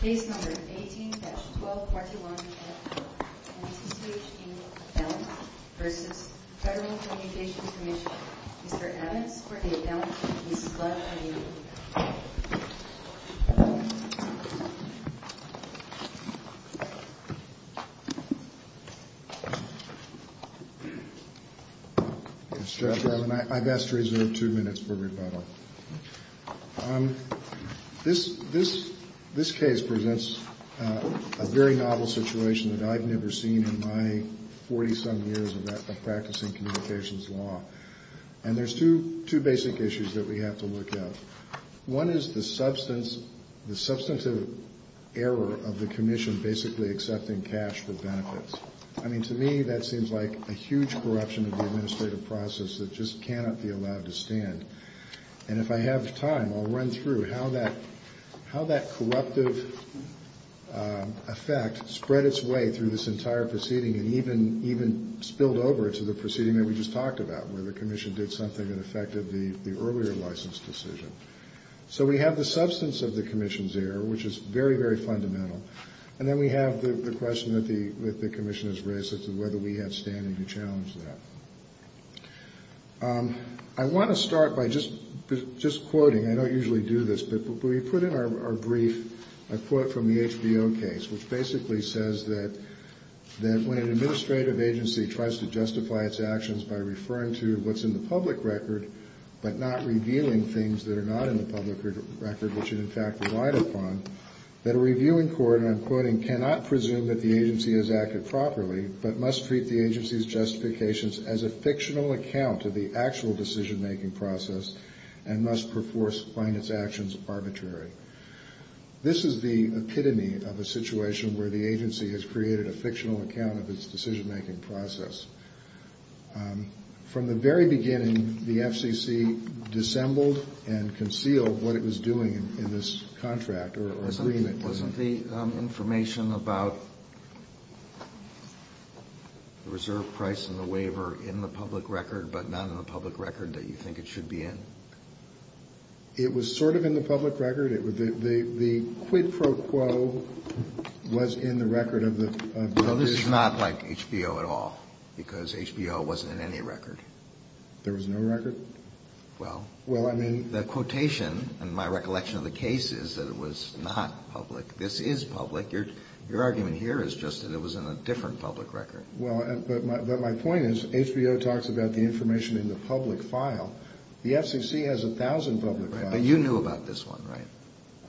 Case No. 18-1241F, NCCH, Inc. v. Federal Communications Commissioner, Mr. Evans, or NCCCH, Inc. Mr. Chairman, I've asked to reserve two minutes for rebuttal. This case presents a very novel situation that I've never seen in my 40-some years of practicing communications law. And there's two basic issues that we have to look at. One is the substantive error of the Commission basically accepting cash for benefits. I mean, to me, that seems like a huge corruption of the administrative process that just cannot be allowed to stand. And if I have time, I'll run through how that corruptive effect spread its way through this entire proceeding and even spilled over to the proceeding that we just talked about, where the Commission did something that affected the earlier license decision. So we have the substance of the Commission's error, which is very, very fundamental. And then we have the question that the Commission has raised as to whether we have standing to challenge that. I want to start by just quoting. I don't usually do this, but we put in our brief a quote from the HBO case, which basically says that when an administrative agency tries to justify its actions by referring to what's in the public record but not revealing things that are not in the public record, which it in fact relied upon, the Commission cannot presume that the agency has acted properly but must treat the agency's justifications as a fictional account of the actual decision-making process and must perforce find its actions arbitrary. This is the epitome of a situation where the agency has created a fictional account of its decision-making process. From the very beginning, the FCC dissembled and concealed what it was doing in this contract or agreement. Wasn't the information about the reserve price and the waiver in the public record but not in the public record that you think it should be in? It was sort of in the public record. The quid pro quo was in the record of the agency. No, this is not like HBO at all, because HBO wasn't in any record. There was no record? Well, the quotation in my recollection of the case is that it was not public. This is public. Your argument here is just that it was in a different public record. Well, but my point is HBO talks about the information in the public file. The FCC has 1,000 public files. Right, but you knew about this one, right?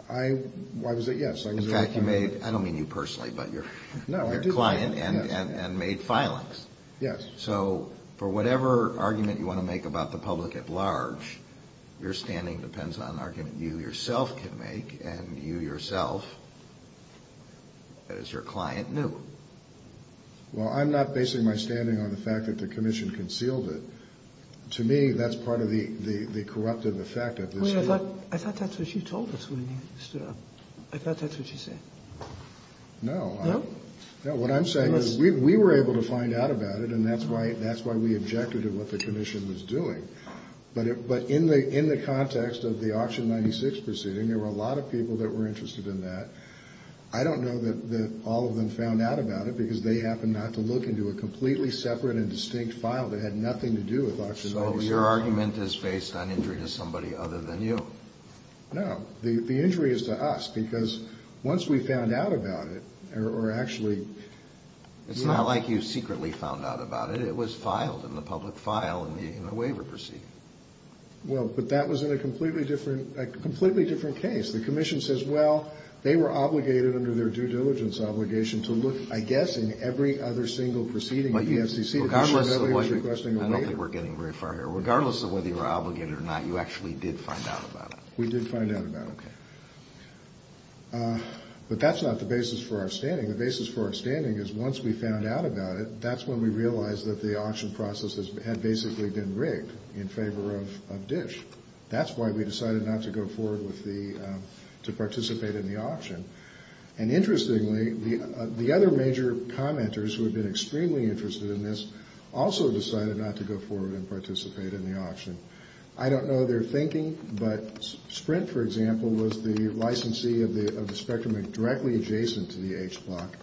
I, why was it, yes. In fact, you made, I don't mean you personally, but your client, and made filings. Yes. So for whatever argument you want to make about the public at large, your standing depends on an argument you yourself can make, and you yourself, as your client, knew. Well, I'm not basing my standing on the fact that the commission concealed it. To me, that's part of the corruptive effect of this. I thought that's what she told us when you stood up. I thought that's what she said. No. No? No, what I'm saying is we were able to find out about it, and that's why we objected to what the commission was doing. But in the context of the Auction 96 proceeding, there were a lot of people that were interested in that. I don't know that all of them found out about it, because they happened not to look into a completely separate and distinct file that had nothing to do with Auction 96. So your argument is based on injury to somebody other than you. No. The injury is to us, because once we found out about it, or actually... It's not like you secretly found out about it. But it was filed in the public file in the waiver proceeding. Well, but that was in a completely different case. The commission says, well, they were obligated under their due diligence obligation to look, I guess, in every other single proceeding of the FCC... I don't think we're getting very far here. Regardless of whether you were obligated or not, you actually did find out about it. We did find out about it. Okay. But that's not the basis for our standing. The basis for our standing is once we found out about it, that's when we realized that the auction process had basically been rigged in favor of DISH. That's why we decided not to go forward with the, to participate in the auction. And interestingly, the other major commenters who had been extremely interested in this also decided not to go forward and participate in the auction. I don't know their thinking, but Sprint, for example, was the licensee of the Spectrum Act directly adjacent to the H block.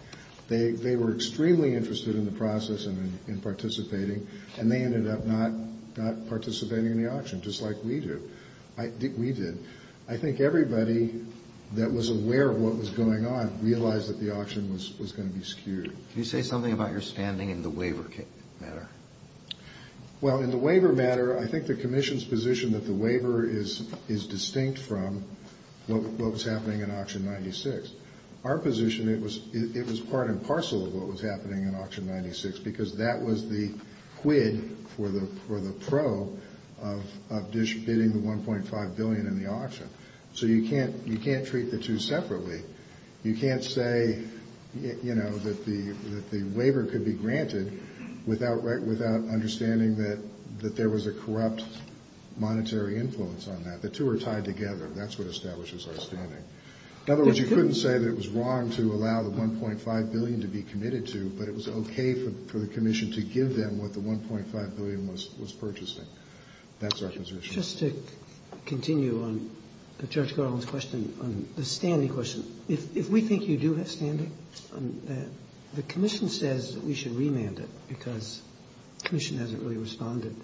They were extremely interested in the process and in participating, and they ended up not participating in the auction, just like we did. I think everybody that was aware of what was going on realized that the auction was going to be skewed. Can you say something about your standing in the waiver matter? Well, in the waiver matter, I think the commission's position that the waiver is distinct from what was happening in Auction 96. Our position, it was part and parcel of what was happening in Auction 96 because that was the quid for the pro of DISH bidding the $1.5 billion in the auction. So you can't treat the two separately. You can't say that the waiver could be granted without understanding that there was a corrupt monetary influence on that. The two are tied together. That's what establishes our standing. In other words, you couldn't say that it was wrong to allow the $1.5 billion to be committed to, but it was okay for the commission to give them what the $1.5 billion was purchasing. That's our position. Just to continue on Judge Garland's question on the standing question, if we think you do have standing, the commission says that we should remand it because the commission hasn't really responded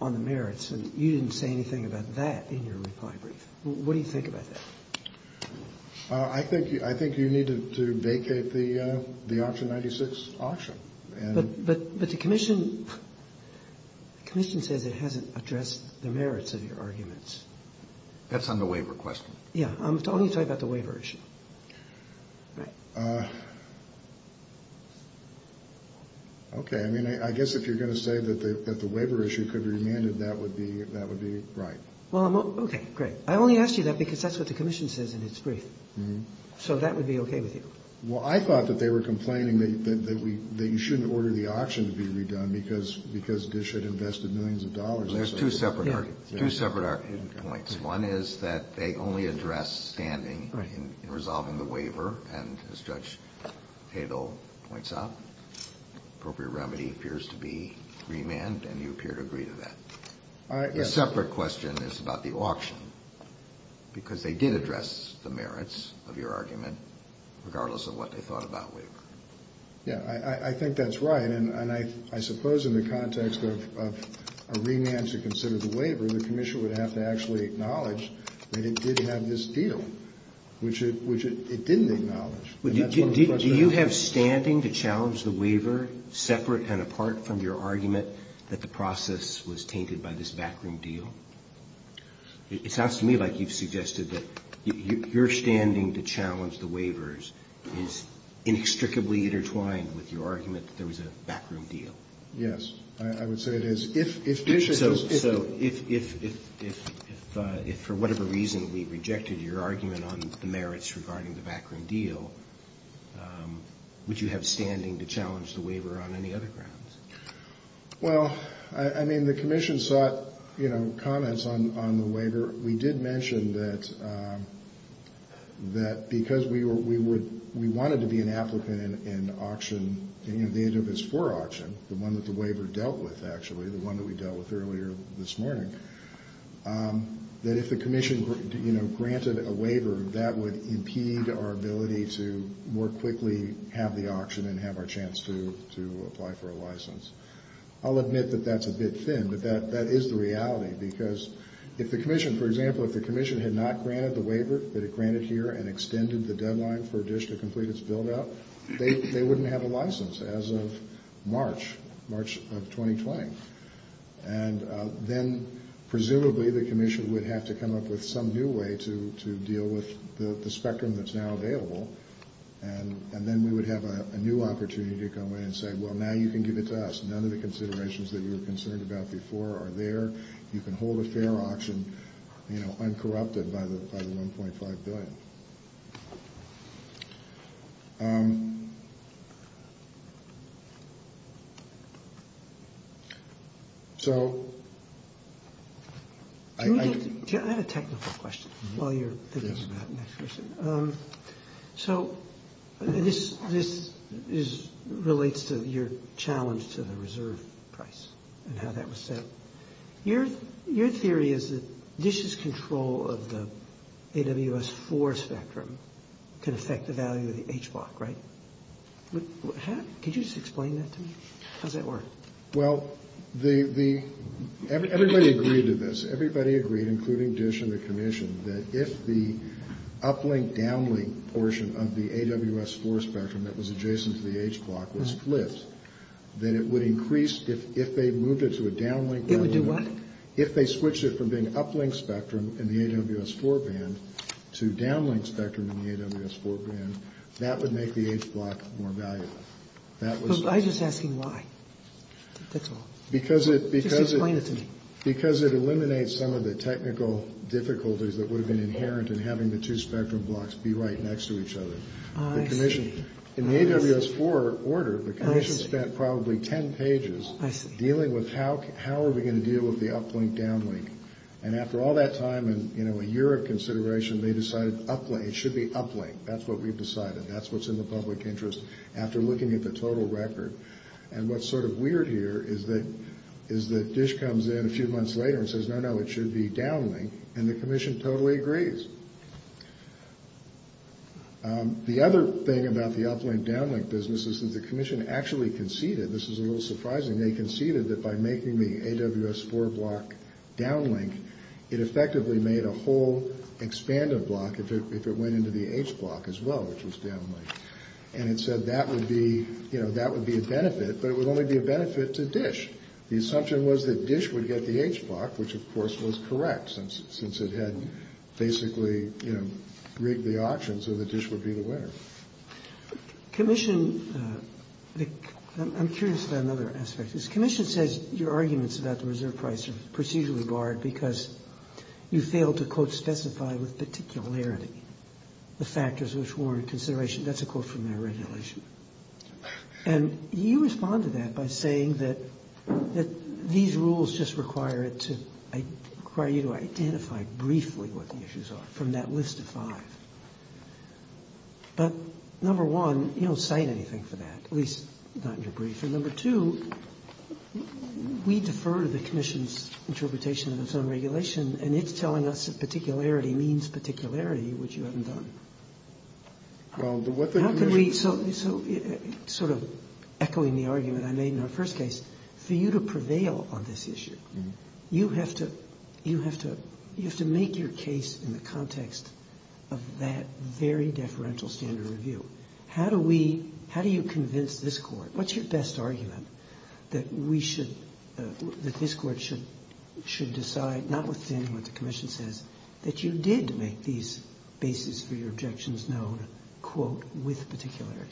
on the merits, and you didn't say anything about that in your reply brief. What do you think about that? I think you need to vacate the Auction 96 auction. But the commission says it hasn't addressed the merits of your arguments. That's on the waiver question. Yeah. I'm only talking about the waiver issue. Right. Okay. I mean, I guess if you're going to say that the waiver issue could be remanded, that would be right. Well, okay. Great. I only asked you that because that's what the commission says in its brief. So that would be okay with you. Well, I thought that they were complaining that you shouldn't order the auction to be redone because Dish had invested millions of dollars. There's two separate arguments. Two separate points. One is that they only address standing in resolving the waiver. And as Judge Hadle points out, appropriate remedy appears to be remand, and you appear to agree to that. The separate question is about the auction, because they did address the merits of your argument, regardless of what they thought about waiver. Yeah. I think that's right. And I suppose in the context of a remand to consider the waiver, the commission would have to actually acknowledge that it did have this deal, which it didn't acknowledge. Do you have standing to challenge the waiver separate and apart from your argument that the process was tainted by this backroom deal? It sounds to me like you've suggested that your standing to challenge the waivers is inextricably intertwined with your argument that there was a backroom deal. Yes. I would say it is. So if for whatever reason we rejected your argument on the merits regarding the backroom deal, would you have standing to challenge the waiver on any other grounds? Well, I mean, the commission sought, you know, comments on the waiver. We did mention that because we wanted to be an applicant in auction, and, you know, the interface for auction, the one that the waiver dealt with, actually, the one that we dealt with earlier this morning, that if the commission, you know, granted a waiver, that would impede our ability to more quickly have the auction and have our chance to apply for a license. I'll admit that that's a bit thin, but that is the reality because if the commission, for example, if the commission had not granted the waiver that it granted here and extended the deadline for a dish to complete its build-out, they wouldn't have a license as of March, March of 2020. And then presumably the commission would have to come up with some new way to deal with the spectrum that's now available, and then we would have a new opportunity to come in and say, well, now you can give it to us. None of the considerations that you were concerned about before are there. You can hold a fair auction, you know, uncorrupted by the $1.5 billion. So I have a technical question while you're thinking about the next question. So this relates to your challenge to the reserve price and how that was set. Your theory is that DISH's control of the AWS-IV spectrum can affect the value of the H block, right? Could you just explain that to me? How does that work? Well, everybody agreed to this. Everybody agreed, including DISH and the commission, that if the uplink-downlink portion of the AWS-IV spectrum that was adjacent to the H block was split, that it would increase if they moved it to a downlink. It would do what? If they switched it from being uplink spectrum in the AWS-IV band to downlink spectrum in the AWS-IV band, that would make the H block more valuable. I'm just asking why. That's all. Because it eliminates some of the technical difficulties that would have been inherent in having the two spectrum blocks be right next to each other. In the AWS-IV order, the commission spent probably 10 pages dealing with how are we going to deal with the uplink-downlink. And after all that time and a year of consideration, they decided it should be uplink. That's what we've decided. That's what's in the public interest after looking at the total record. And what's sort of weird here is that DISH comes in a few months later and says, no, no, it should be downlink, and the commission totally agrees. The other thing about the uplink-downlink business is that the commission actually conceded, this is a little surprising, they conceded that by making the AWS-IV block downlink, it effectively made a whole expanded block if it went into the H block as well, which was downlink. And it said that would be a benefit, but it would only be a benefit to DISH. The assumption was that DISH would get the H block, which, of course, was correct, since it had basically, you know, rigged the auction so that DISH would be the winner. Commission, I'm curious about another aspect. The commission says your arguments about the reserve price are procedurally barred because you failed to, quote, specify with particularity the factors which warrant consideration. That's a quote from their regulation. And you respond to that by saying that these rules just require it to, require you to identify briefly what the issues are from that list of five. But, number one, you don't cite anything for that, at least not in your brief. And number two, we defer to the commission's interpretation of its own regulation, and it's telling us that particularity means particularity, which you haven't done. How could we, so sort of echoing the argument I made in our first case, for you to prevail on this issue, you have to, you have to, you have to make your case in the context of that very deferential standard review. How do we, how do you convince this Court, what's your best argument, that we should, that this Court should, should decide, notwithstanding what the commission says, that you did make these basis for your objections known, quote, with particularity?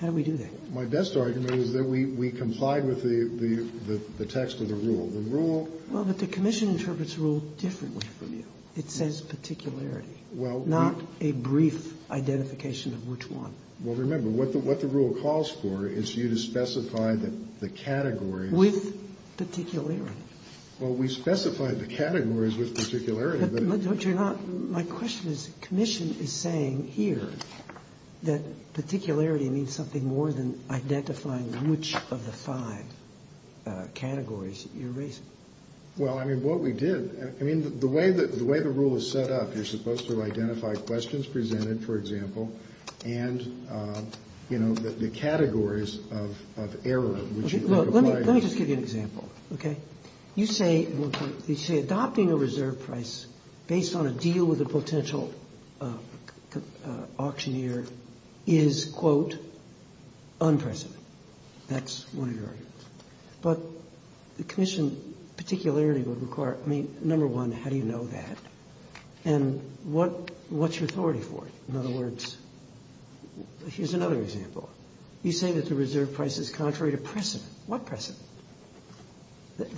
How do we do that? My best argument is that we, we complied with the, the text of the rule. The rule... Well, but the commission interprets the rule differently from you. It says particularity. Well, we... Not a brief identification of which one. Well, remember, what the, what the rule calls for is you to specify that the categories... With particularity. Well, we specified the categories with particularity, but... But you're not, my question is, commission is saying here that particularity means something more than identifying which of the five categories you're raising. Well, I mean, what we did, I mean, the way the, the way the rule is set up, you're supposed to identify questions presented, for example, and, you know, the categories of error which you... Well, let me, let me just give you an example, okay? You say, you say adopting a reserve price based on a deal with a potential auctioneer is, quote, unprecedented. That's one of your arguments. But the commission, particularity would require, I mean, number one, how do you know that? And what, what's your authority for it? In other words, here's another example. You say that the reserve price is contrary to precedent. What precedent?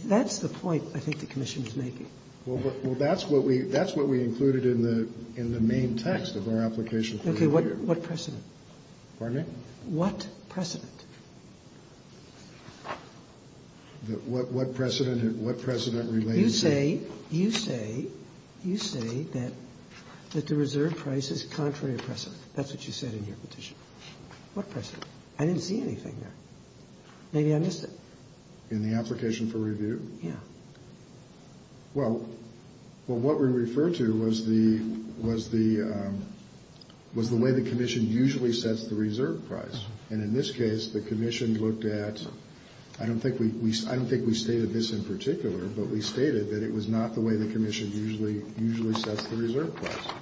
That's the point I think the commission is making. Well, that's what we, that's what we included in the, in the main text of our application for review. Okay. What precedent? Pardon me? What precedent? What precedent, what precedent relates to... You say, you say, you say that, that the reserve price is contrary to precedent. That's what you said in your petition. What precedent? I didn't see anything there. Maybe I missed it. In the application for review? Yeah. Well, well, what we refer to was the, was the, was the way the commission usually sets the reserve price. And in this case, the commission looked at, I don't think we, I don't think we stated this in particular, but we stated that it was not the way the commission usually, usually sets the reserve price.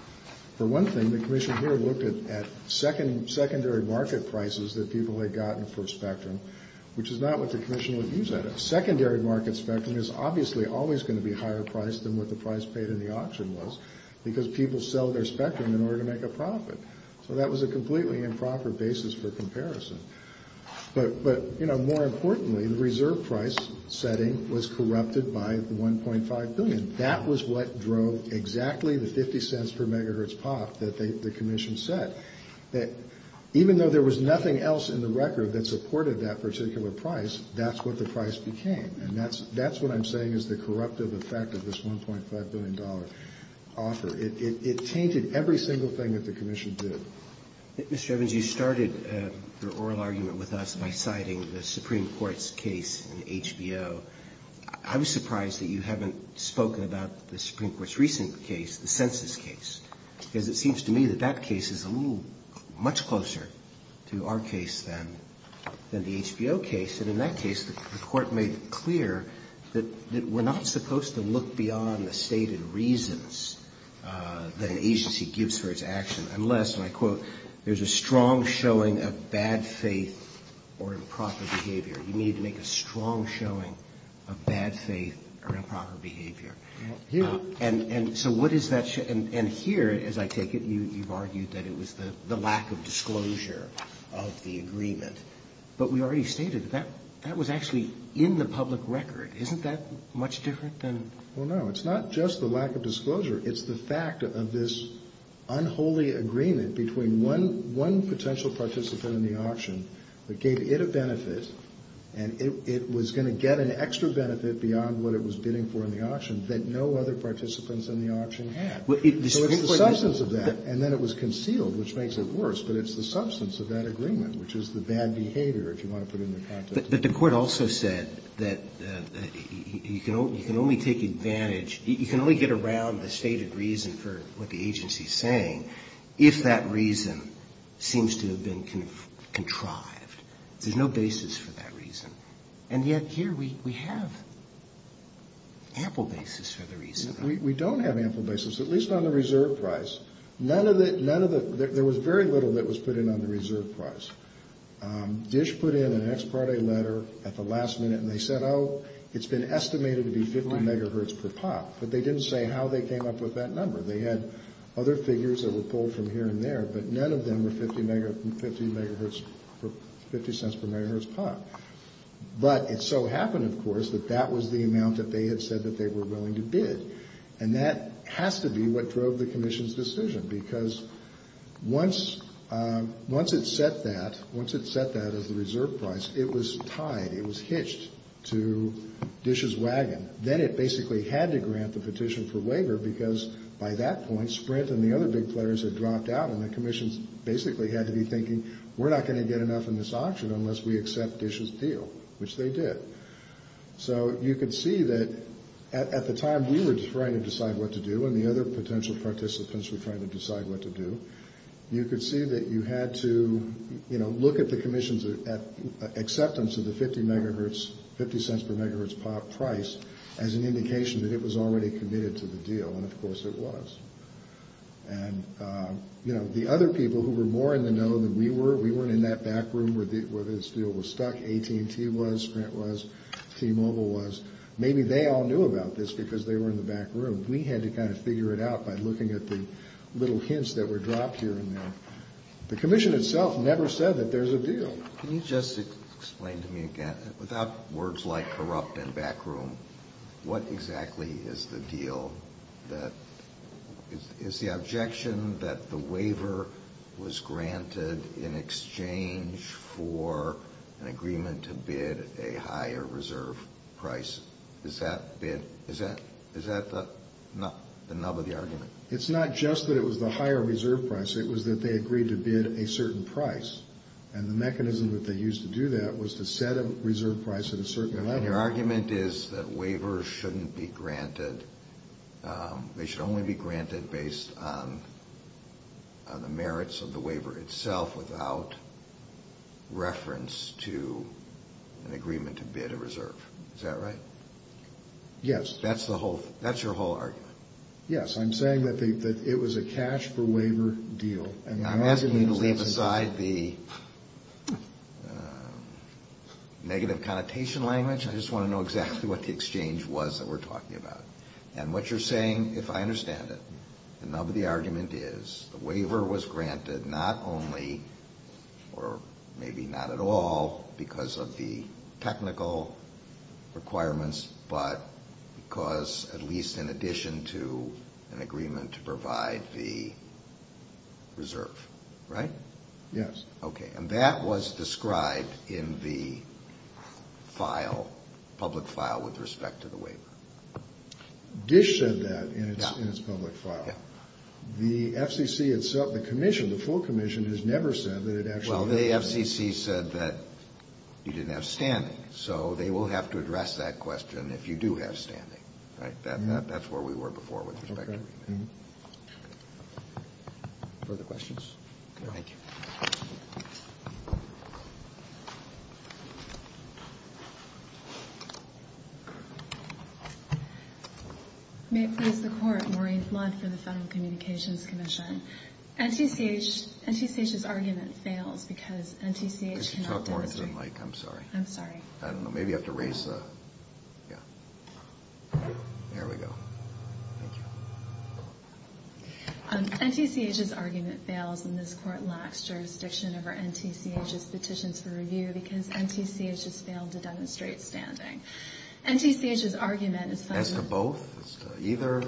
For one thing, the commission here looked at, at second, secondary market prices that people had gotten for Spectrum, which is not what the commission would use that as. Secondary market Spectrum is obviously always going to be higher priced than what the price paid in the auction was, because people sell their Spectrum in order to make a profit. So that was a completely improper basis for comparison. But, but, you know, more importantly, the reserve price setting was corrupted by the 1.5 billion. And that was what drove exactly the 50 cents per megahertz pop that they, the commission set. That even though there was nothing else in the record that supported that particular price, that's what the price became. And that's, that's what I'm saying is the corruptive effect of this 1.5 billion dollar offer. It, it, it tainted every single thing that the commission did. Mr. Evans, you started the oral argument with us by citing the Supreme Court's case in HBO. I was surprised that you haven't spoken about the Supreme Court's recent case, the census case. Because it seems to me that that case is a little, much closer to our case than, than the HBO case. And in that case, the Court made clear that, that we're not supposed to look beyond the stated reasons that an agency gives for its action unless, and I quote, there's a strong showing of bad faith or improper behavior. You need to make a strong showing of bad faith or improper behavior. Here. And, and so what is that, and, and here, as I take it, you, you've argued that it was the, the lack of disclosure of the agreement. But we already stated that, that was actually in the public record. Isn't that much different than? Well, no. It's not just the lack of disclosure. It's the fact of this unholy agreement between one, one potential participant in the auction that gave it a benefit, and it, it was going to get an extra benefit beyond what it was bidding for in the auction that no other participants in the auction had. So it's the substance of that. And then it was concealed, which makes it worse. But it's the substance of that agreement, which is the bad behavior, if you want to put it into context. But, but the Court also said that, that you can only, you can only take advantage, you can only get around the stated reason for what the agency's saying if that reason seems to have been contrived. There's no basis for that reason. And yet here we, we have ample basis for the reason. We, we don't have ample basis, at least on the reserve price. None of the, none of the, there was very little that was put in on the reserve price. Dish put in an ex parte letter at the last minute, and they said, oh, it's been estimated to be 50 megahertz per pop. But they didn't say how they came up with that number. They had other figures that were pulled from here and there. But none of them were 50 megahertz, 50 cents per megahertz pop. But it so happened, of course, that that was the amount that they had said that they were willing to bid. And that has to be what drove the Commission's decision. Because once, once it set that, once it set that as the reserve price, it was tied, it was hitched to Dish's wagon. Then it basically had to grant the petition for waiver, because by that point, Sprint and the other big players had dropped out, and the Commission basically had to be thinking, we're not going to get enough in this auction unless we accept Dish's deal, which they did. So you could see that at the time we were trying to decide what to do, and the other potential participants were trying to decide what to do, you could see that you had to, you know, look at the Commission's acceptance of the 50 megahertz, 50 cents per megahertz pop price as an indication that it was already committed to the deal, and of course it was. And, you know, the other people who were more in the know than we were, we weren't in that back room where this deal was stuck. AT&T was, Sprint was, T-Mobile was. Maybe they all knew about this because they were in the back room. We had to kind of figure it out by looking at the little hints that were dropped here and there. The Commission itself never said that there's a deal. Can you just explain to me again, without words like corrupt in back room, what exactly is the deal that, is the objection that the waiver was granted in exchange for an agreement to bid a higher reserve price, is that bid, is that the nub of the argument? It's not just that it was the higher reserve price, it was that they agreed to bid a certain price. And the mechanism that they used to do that was to set a reserve price at a certain level. And your argument is that waivers shouldn't be granted, they should only be granted based on the merits of the waiver itself without reference to an agreement to bid a reserve. Is that right? Yes. That's the whole, that's your whole argument. Yes, I'm saying that it was a cash for waiver deal. I'm asking you to leave aside the negative connotation language, I just want to know exactly what the exchange was that we're talking about. And what you're saying, if I understand it, the nub of the argument is the waiver was granted not only, or maybe not at all, because of the technical requirements, but because, at least in addition to an agreement to provide the reserve, right? Yes. Okay. And that was described in the file, public file, with respect to the waiver. Dish said that in its public file. Yeah. The FCC itself, the commission, the full commission, has never said that it actually. Well, the FCC said that you didn't have standing, so they will have to address that question if you do have standing, right? That's where we were before with respect to the waiver. Further questions? No. Thank you. May it please the Court. Maureen Flood for the Federal Communications Commission. NTCH's argument fails because NTCH cannot demonstrate. You should talk more into the mic. I'm sorry. I'm sorry. I don't know. Maybe you have to raise the. Yeah. There we go. Thank you. NTCH's argument fails, and this Court lacks jurisdiction over NTCH's petitions for review because NTCH has failed to demonstrate standing. NTCH's argument is. As to both? As to either?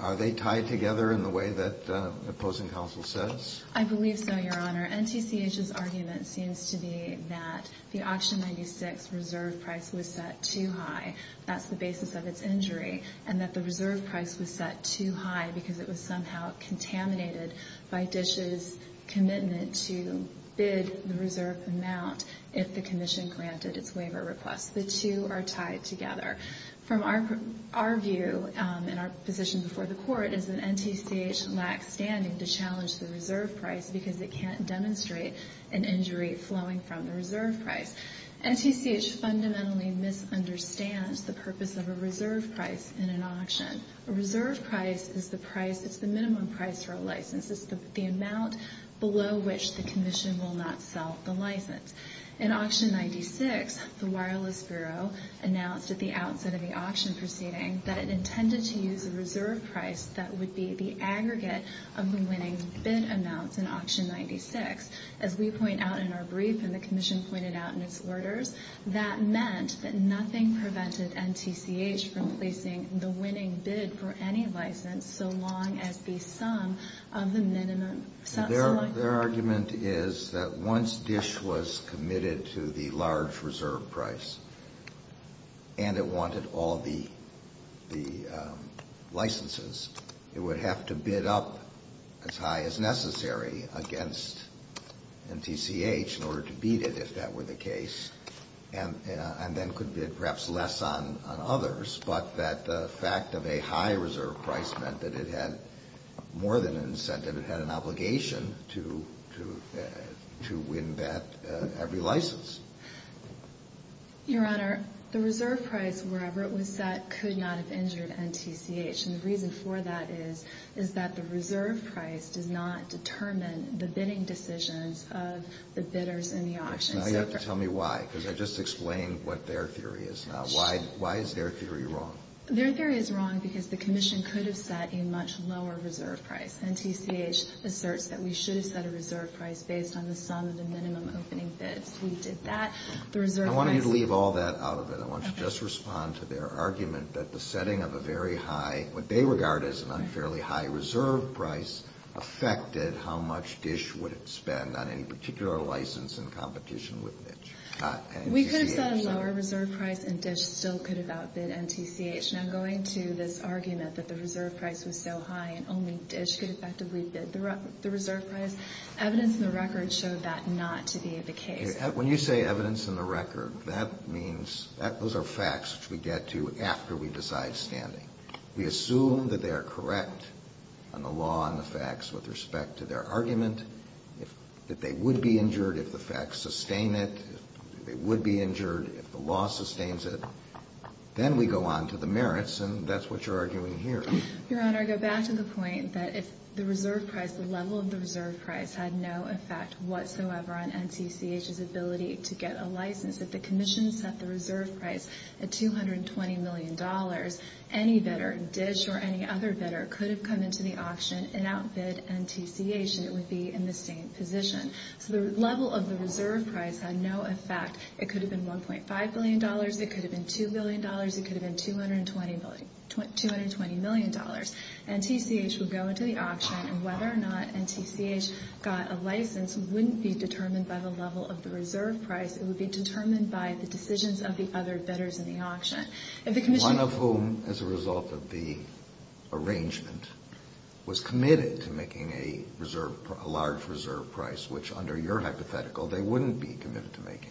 Are they tied together in the way that opposing counsel says? I believe so, Your Honor. NTCH's argument seems to be that the auction 96 reserve price was set too high. That's the basis of its injury, and that the reserve price was set too high because it was somehow contaminated by Dish's commitment to bid the reserve amount if the commission granted its waiver request. The two are tied together. From our view and our position before the Court is that NTCH lacks standing to challenge the reserve price because it can't demonstrate an injury flowing from the reserve price. NTCH fundamentally misunderstands the purpose of a reserve price in an auction. A reserve price is the price. It's the minimum price for a license. It's the amount below which the commission will not sell the license. In auction 96, the Wireless Bureau announced at the outset of the auction proceeding that it intended to use a reserve price that would be the aggregate of the winning bid amounts in auction 96. As we point out in our brief and the commission pointed out in its orders, that meant that nothing prevented NTCH from placing the winning bid for any license so long as the sum of the minimum sum. Their argument is that once Dish was committed to the large reserve price and it wanted all the licenses, it would have to bid up as high as necessary against NTCH in order to beat it, if that were the case, and then could bid perhaps less on others, but that the fact of a high reserve price meant that it had more than an incentive. It meant that it had an obligation to win bet every license. Your Honor, the reserve price, wherever it was set, could not have injured NTCH, and the reason for that is that the reserve price does not determine the bidding decisions of the bidders in the auction. Now you have to tell me why, because I just explained what their theory is now. Why is their theory wrong? Their theory is wrong because the commission could have set a much lower reserve price. NTCH asserts that we should have set a reserve price based on the sum of the minimum opening bids. We did that. I want you to leave all that out of it. I want you to just respond to their argument that the setting of a very high, what they regard as an unfairly high reserve price, affected how much Dish would spend on any particular license in competition with NTCH. We could have set a lower reserve price and Dish still could have outbid NTCH. Now going to this argument that the reserve price was so high and only Dish could effectively bid the reserve price, evidence in the record showed that not to be the case. When you say evidence in the record, that means those are facts which we get to after we decide standing. We assume that they are correct on the law and the facts with respect to their argument, that they would be injured if the facts sustain it, they would be injured if the law sustains it. Then we go on to the merits, and that's what you're arguing here. Your Honor, I go back to the point that if the reserve price, the level of the reserve price had no effect whatsoever on NTCH's ability to get a license, if the commission set the reserve price at $220 million, any bidder, Dish or any other bidder, could have come into the auction and outbid NTCH. It would be in the same position. So the level of the reserve price had no effect. It could have been $1.5 billion. It could have been $2 billion. It could have been $220 million. NTCH would go into the auction, and whether or not NTCH got a license wouldn't be determined by the level of the reserve price. It would be determined by the decisions of the other bidders in the auction. If the commission ---- which, under your hypothetical, they wouldn't be committed to making.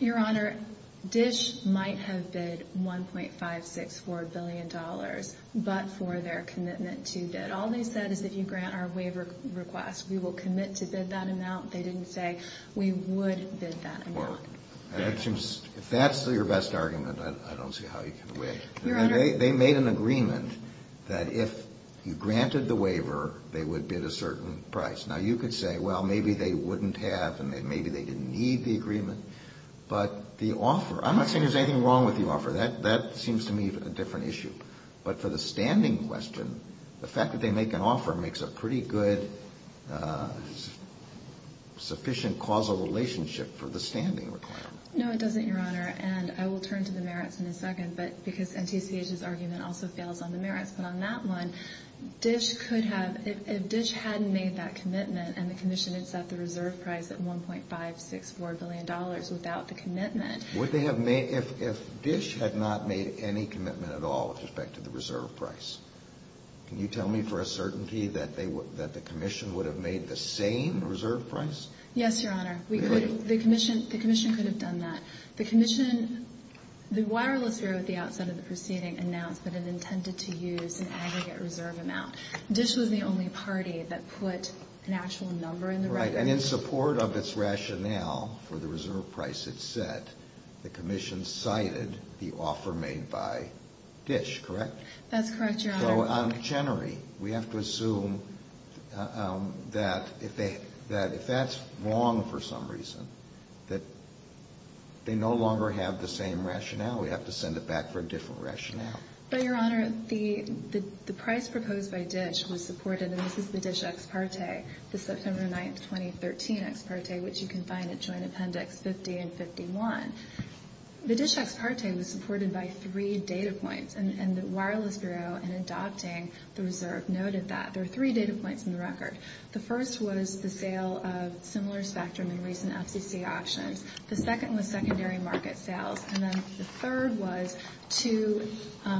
Your Honor, Dish might have bid $1.564 billion, but for their commitment to bid. All they said is if you grant our waiver request, we will commit to bid that amount. They didn't say we would bid that amount. If that's your best argument, I don't see how you can win. Your Honor ---- They made an agreement that if you granted the waiver, they would bid a certain price. Now, you could say, well, maybe they wouldn't have, and maybe they didn't need the agreement. But the offer ---- I'm not saying there's anything wrong with the offer. That seems to me a different issue. But for the standing question, the fact that they make an offer makes a pretty good, sufficient causal relationship for the standing requirement. No, it doesn't, Your Honor. And I will turn to the merits in a second, because NTCH's argument also fails on the merits. But on that one, Dish could have ---- if Dish hadn't made that commitment and the Commission had set the reserve price at $1.564 billion without the commitment ---- Would they have made ---- if Dish had not made any commitment at all with respect to the reserve price, can you tell me for a certainty that they would ---- that the Commission would have made the same reserve price? Yes, Your Honor. Really? The Commission could have done that. The Commission ---- the wireless bureau at the outset of the proceeding announced that it intended to use an aggregate reserve amount. Dish was the only party that put an actual number in the record. Right. And in support of its rationale for the reserve price it set, the Commission cited the offer made by Dish, correct? That's correct, Your Honor. So on Chenery, we have to assume that if they ---- that if that's wrong for some reason, that they no longer have the same rationale. We have to send it back for a different rationale. But, Your Honor, the price proposed by Dish was supported, and this is the Dish ex parte, the September 9, 2013 ex parte, which you can find at Joint Appendix 50 and 51. The Dish ex parte was supported by three data points, and the wireless bureau in adopting the reserve noted that. There are three data points in the record. The first was the sale of similar spectrum in recent FCC auctions. The second was secondary market sales. And then the third was two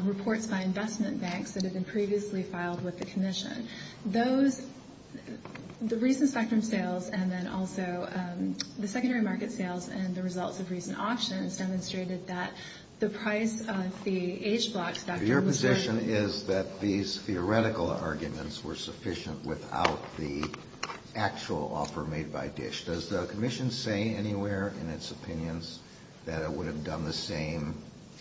reports by investment banks that had been previously filed with the Commission. Those ---- the recent spectrum sales and then also the secondary market sales and the results of recent auctions demonstrated that the price of the age block spectrum ---- Your position is that these theoretical arguments were sufficient without the actual offer made by Dish. Does the Commission say anywhere in its opinions that it would have done the same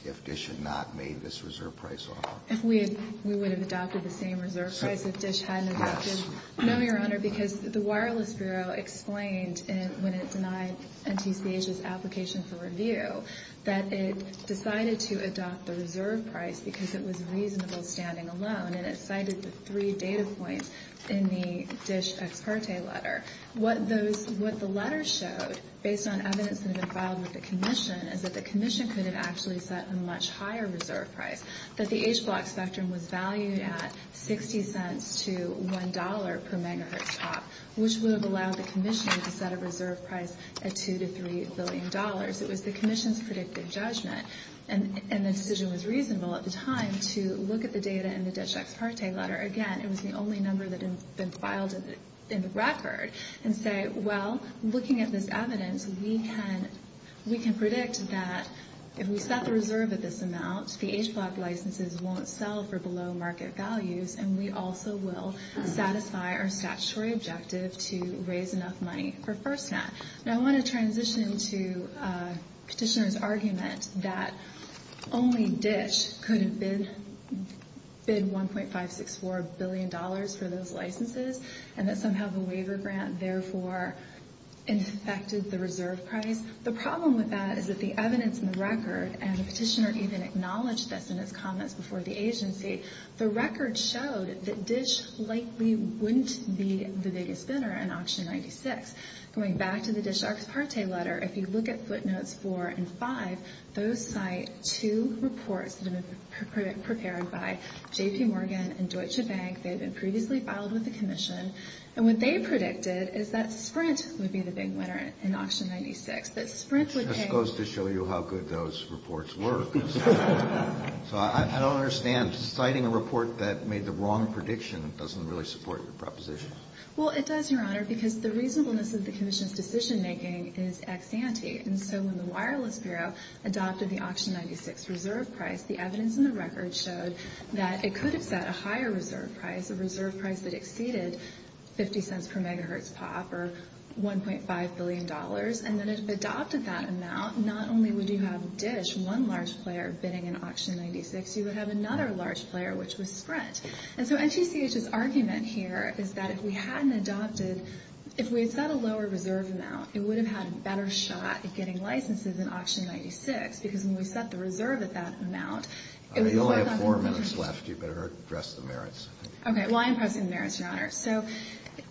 if Dish had not made this reserve price offer? If we had ---- we would have adopted the same reserve price if Dish hadn't adopted. No, Your Honor, because the wireless bureau explained when it denied NTCH's application for review that it decided to adopt the reserve price because it was reasonable standing alone. And it cited the three data points in the Dish ex parte letter. What those ---- what the letter showed, based on evidence that had been filed with the Commission, is that the Commission could have actually set a much higher reserve price. That the age block spectrum was valued at 60 cents to $1 per megahertz top, which would have allowed the Commission to set a reserve price at $2 to $3 billion. It was the Commission's predictive judgment. And the decision was reasonable at the time to look at the data in the Dish ex parte letter. Again, it was the only number that had been filed in the record. And say, well, looking at this evidence, we can predict that if we set the reserve at this amount, the age block licenses won't sell for below market values. And we also will satisfy our statutory objective to raise enough money for FirstNet. Now, I want to transition to Petitioner's argument that only Dish could have bid $1.564 billion for those licenses, and that somehow the waiver grant therefore infected the reserve price. The problem with that is that the evidence in the record, and the Petitioner even acknowledged this in his comments before the agency, the record showed that Dish likely wouldn't be the biggest bidder in auction 96. Going back to the Dish ex parte letter, if you look at footnotes 4 and 5, those footnotes cite two reports that have been prepared by J.P. Morgan and Deutsche Bank. They had been previously filed with the Commission. And what they predicted is that Sprint would be the big winner in auction 96, that Sprint would pay. Kennedy. Just goes to show you how good those reports were. So I don't understand. Citing a report that made the wrong prediction doesn't really support your proposition. Well, it does, Your Honor, because the reasonableness of the Commission's decision making is ex ante. And so when the Wireless Bureau adopted the auction 96 reserve price, the evidence in the record showed that it could have set a higher reserve price, a reserve price that exceeded 50 cents per megahertz pop, or $1.5 billion. And then if it adopted that amount, not only would you have Dish, one large player, bidding in auction 96, you would have another large player, which was Sprint. And so NTCH's argument here is that if we hadn't adopted, if we had set a lower reserve amount, it would have had a better shot at getting licenses in auction 96, because when we set the reserve at that amount, it would have foregone conclusion. You only have four minutes left. You better address the merits. Okay. Well, I am pressing the merits, Your Honor. So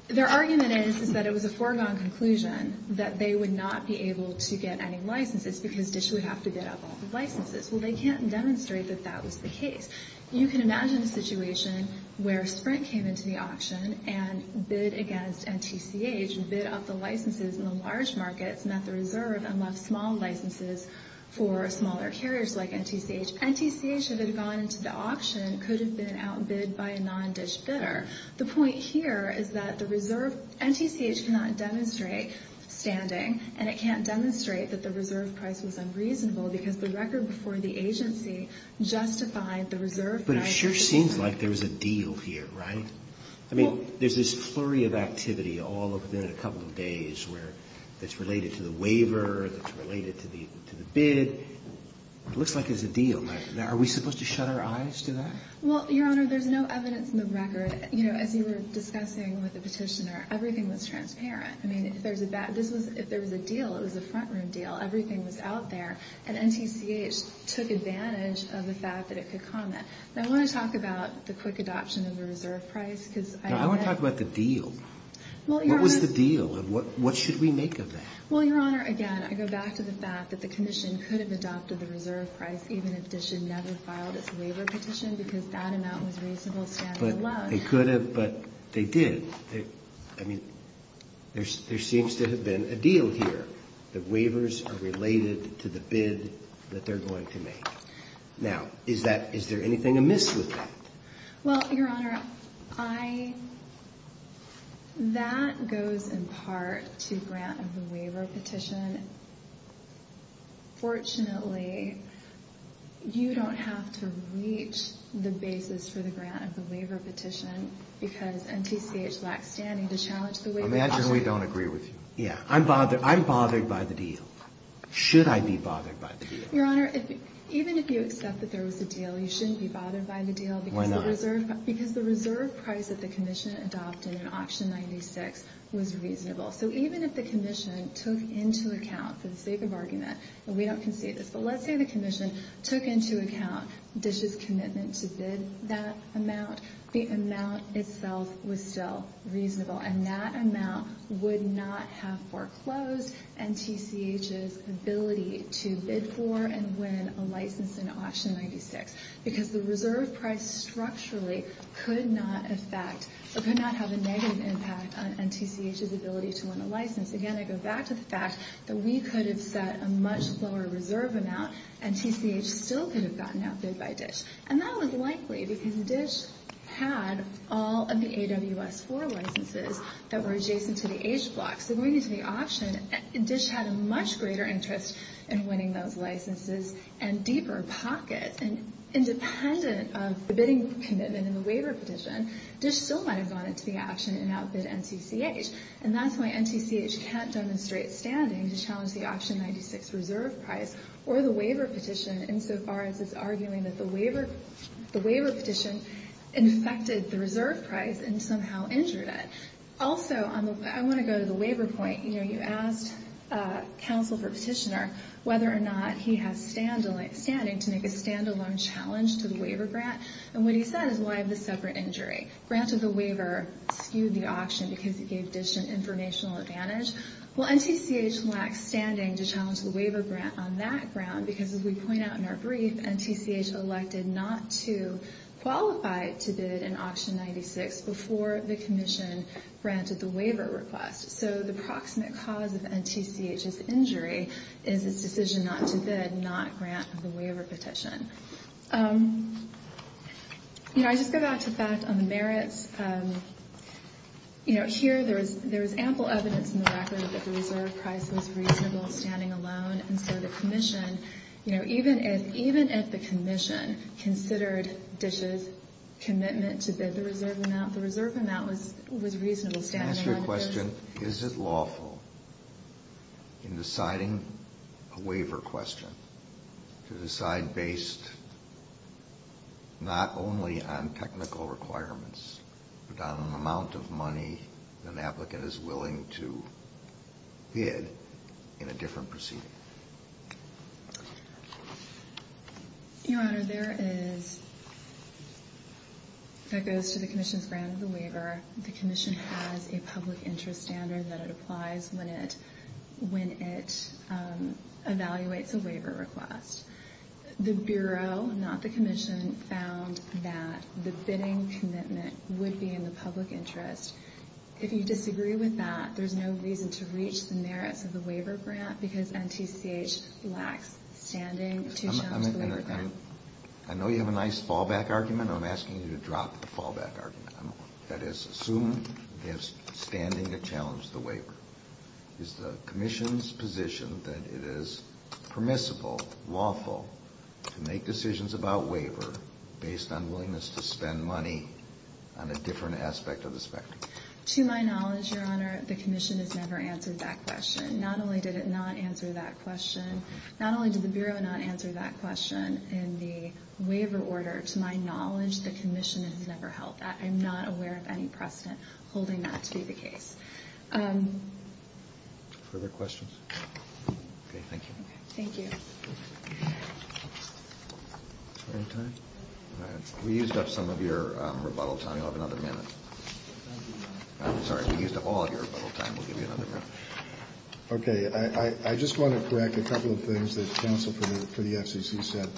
their argument is that it was a foregone conclusion that they would not be able to get any licenses because Dish would have to bid up all the licenses. Well, they can't demonstrate that that was the case. You can imagine a situation where Sprint came into the auction and bid against large licenses and the large markets met the reserve and left small licenses for smaller carriers like NTCH. NTCH, if it had gone into the auction, could have been outbid by a non-Dish bidder. The point here is that the reserve, NTCH cannot demonstrate standing, and it can't demonstrate that the reserve price was unreasonable because the record before the agency justified the reserve price. But it sure seems like there was a deal here, right? I mean, there's this flurry of activity all within a couple of days where it's related to the waiver, it's related to the bid. It looks like there's a deal. Are we supposed to shut our eyes to that? Well, Your Honor, there's no evidence in the record. You know, as you were discussing with the Petitioner, everything was transparent. I mean, if there was a deal, it was a front-room deal. Everything was out there. And NTCH took advantage of the fact that it could comment. I want to talk about the quick adoption of the reserve price because I bet that I want to talk about the deal. What was the deal, and what should we make of that? Well, Your Honor, again, I go back to the fact that the Commission could have adopted the reserve price even if Dish had never filed its waiver petition because that amount was reasonable standing alone. But they could have, but they did. I mean, there seems to have been a deal here that waivers are related to the bid that they're going to make. Now, is there anything amiss with that? Well, Your Honor, that goes in part to grant of the waiver petition. Fortunately, you don't have to reach the basis for the grant of the waiver petition because NTCH lacks standing to challenge the waiver. Imagine we don't agree with you. Yeah. I'm bothered by the deal. Should I be bothered by the deal? Your Honor, even if you accept that there was a deal, you shouldn't be bothered by the deal because the reserve price that the Commission adopted in Auction 96 was reasonable. So even if the Commission took into account, for the sake of argument, and we don't concede this, but let's say the Commission took into account Dish's commitment to bid that amount, the amount itself was still reasonable, and that amount would not have foreclosed NTCH's ability to bid for and win a license in Auction 96. Because the reserve price structurally could not have a negative impact on NTCH's ability to win a license. Again, I go back to the fact that we could have set a much lower reserve amount, and TCH still could have gotten outbid by Dish. And that was likely because Dish had all of the AWS-IV licenses that were adjacent to the H blocks. So going into the auction, Dish had a much greater interest in winning those licenses and deeper pockets. And independent of the bidding commitment in the waiver petition, Dish still might have gone into the auction and outbid NTCH. And that's why NTCH can't demonstrate standing to challenge the Auction 96 reserve price or the waiver petition insofar as it's arguing that the waiver petition infected the reserve price and somehow injured it. Also, I want to go to the waiver point. You know, you asked counsel for petitioner whether or not he has standing to make a standalone challenge to the waiver grant. And what he said is why the separate injury? Granted the waiver skewed the auction because it gave Dish an informational advantage. Well, NTCH lacks standing to challenge the waiver grant on that ground because, as we point out in our brief, NTCH elected not to qualify to bid in Auction 96 before the commission granted the waiver request. So the proximate cause of NTCH's injury is its decision not to bid, not grant the waiver petition. You know, here there is ample evidence in the record that the reserve price was reasonable standing alone. And so the commission, you know, even if the commission considered Dish's commitment to bid the reserve amount, the reserve amount was reasonable standing alone. To answer your question, is it lawful in deciding a waiver question to decide based not only on technical requirements, but on an amount of money an applicant is willing to bid in a different proceeding? Your Honor, there is, that goes to the commission's grant of the waiver. The commission has a public interest standard that it applies when it evaluates a waiver request. The Bureau, not the commission, found that the bidding commitment would be in the public interest. If you disagree with that, there's no reason to reach the merits of the waiver grant because NTCH lacks standing to challenge the waiver grant. I know you have a nice fallback argument. I'm asking you to drop the fallback argument. That is, assume you have standing to challenge the waiver. Is the commission's position that it is permissible, lawful, to make decisions about waiver based on willingness to spend money on a different aspect of the spectrum? To my knowledge, Your Honor, the commission has never answered that question. Not only did it not answer that question, not only did the Bureau not answer that question in the waiver order, to my knowledge, the commission has never held that. I'm not aware of any precedent holding that to be the case. Further questions? Okay, thank you. Thank you. We used up some of your rebuttal time. You'll have another minute. I'm sorry, we used up all of your rebuttal time. We'll give you another minute. Okay, I just want to correct a couple of things that counsel for the FCC said.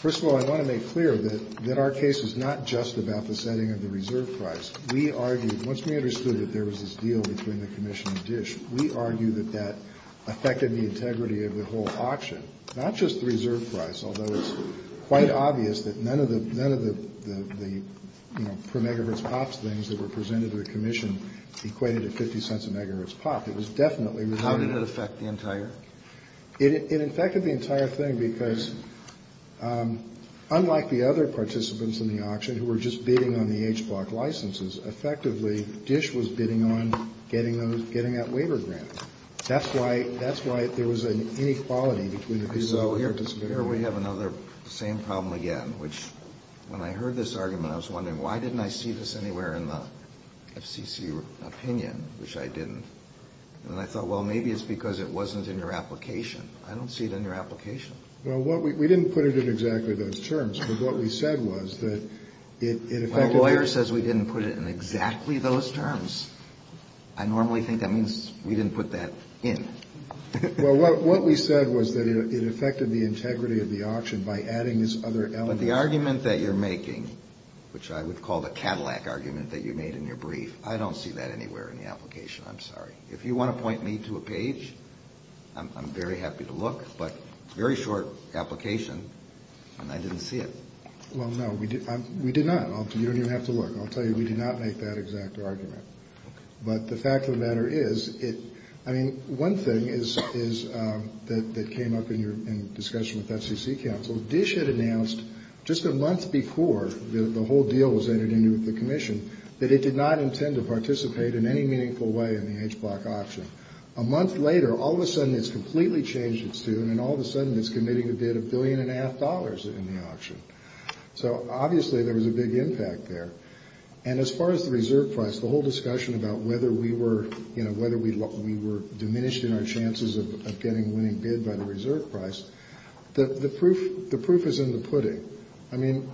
First of all, I want to make clear that our case is not just about the setting of the reserve price. We argued, once we understood that there was this deal between the commission and DISH, we argued that that affected the integrity of the whole auction, not just the reserve price, although it's quite obvious that none of the, you know, per megahertz pops things that were presented to the commission equated to 50 cents a megahertz pop. It was definitely related. How did it affect the entire? It affected the entire thing because unlike the other participants in the auction who were just bidding on the HBLOC licenses, effectively, DISH was bidding on getting that waiver grant. That's why there was an inequality between the two. So here we have another same problem again, which when I heard this argument, I was wondering why didn't I see this anywhere in the FCC opinion, which I didn't. And I thought, well, maybe it's because it wasn't in your application. I don't see it in your application. Well, we didn't put it in exactly those terms, but what we said was that it affected. My lawyer says we didn't put it in exactly those terms. I normally think that means we didn't put that in. Well, what we said was that it affected the integrity of the auction by adding this other element. But the argument that you're making, which I would call the Cadillac argument that you made in your brief, I don't see that anywhere in the application. I'm sorry. If you want to point me to a page, I'm very happy to look. But it's a very short application, and I didn't see it. Well, no, we did not. You don't even have to look. I'll tell you, we did not make that exact argument. But the fact of the matter is, I mean, one thing that came up in your discussion with FCC counsel, DISH had announced just a month before the whole deal was entered into the commission, that it did not intend to participate in any meaningful way in the HBLOC auction. A month later, all of a sudden it's completely changed its tune, and all of a sudden it's committing a bid of $1.5 billion in the auction. So obviously there was a big impact there. And as far as the reserve price, the whole discussion about whether we were diminished in our chances of getting a winning bid by the reserve price, the proof is in the pudding. I mean,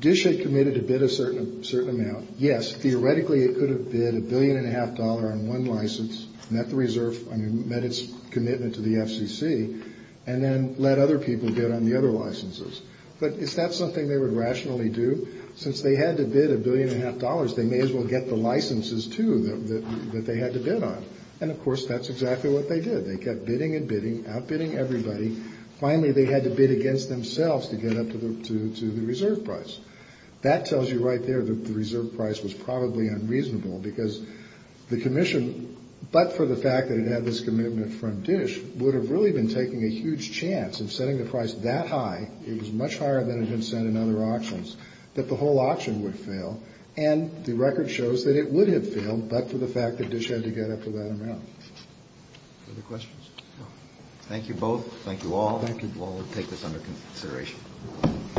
DISH had committed to bid a certain amount. Yes, theoretically it could have bid $1.5 billion on one license, met the reserve, I mean, met its commitment to the FCC, and then let other people bid on the other licenses. But is that something they would rationally do? Since they had to bid $1.5 billion, they may as well get the licenses, too, that they had to bid on. And, of course, that's exactly what they did. They kept bidding and bidding, outbidding everybody. Finally, they had to bid against themselves to get up to the reserve price. That tells you right there that the reserve price was probably unreasonable, because the commission, but for the fact that it had this commitment from DISH, would have really been taking a huge chance of setting the price that high, it was much higher than it had been set in other auctions, that the whole auction would fail. And the record shows that it would have failed, but for the fact that DISH had to get up to that amount. Other questions? Thank you both. Thank you all. Thank you. We'll take this under consideration.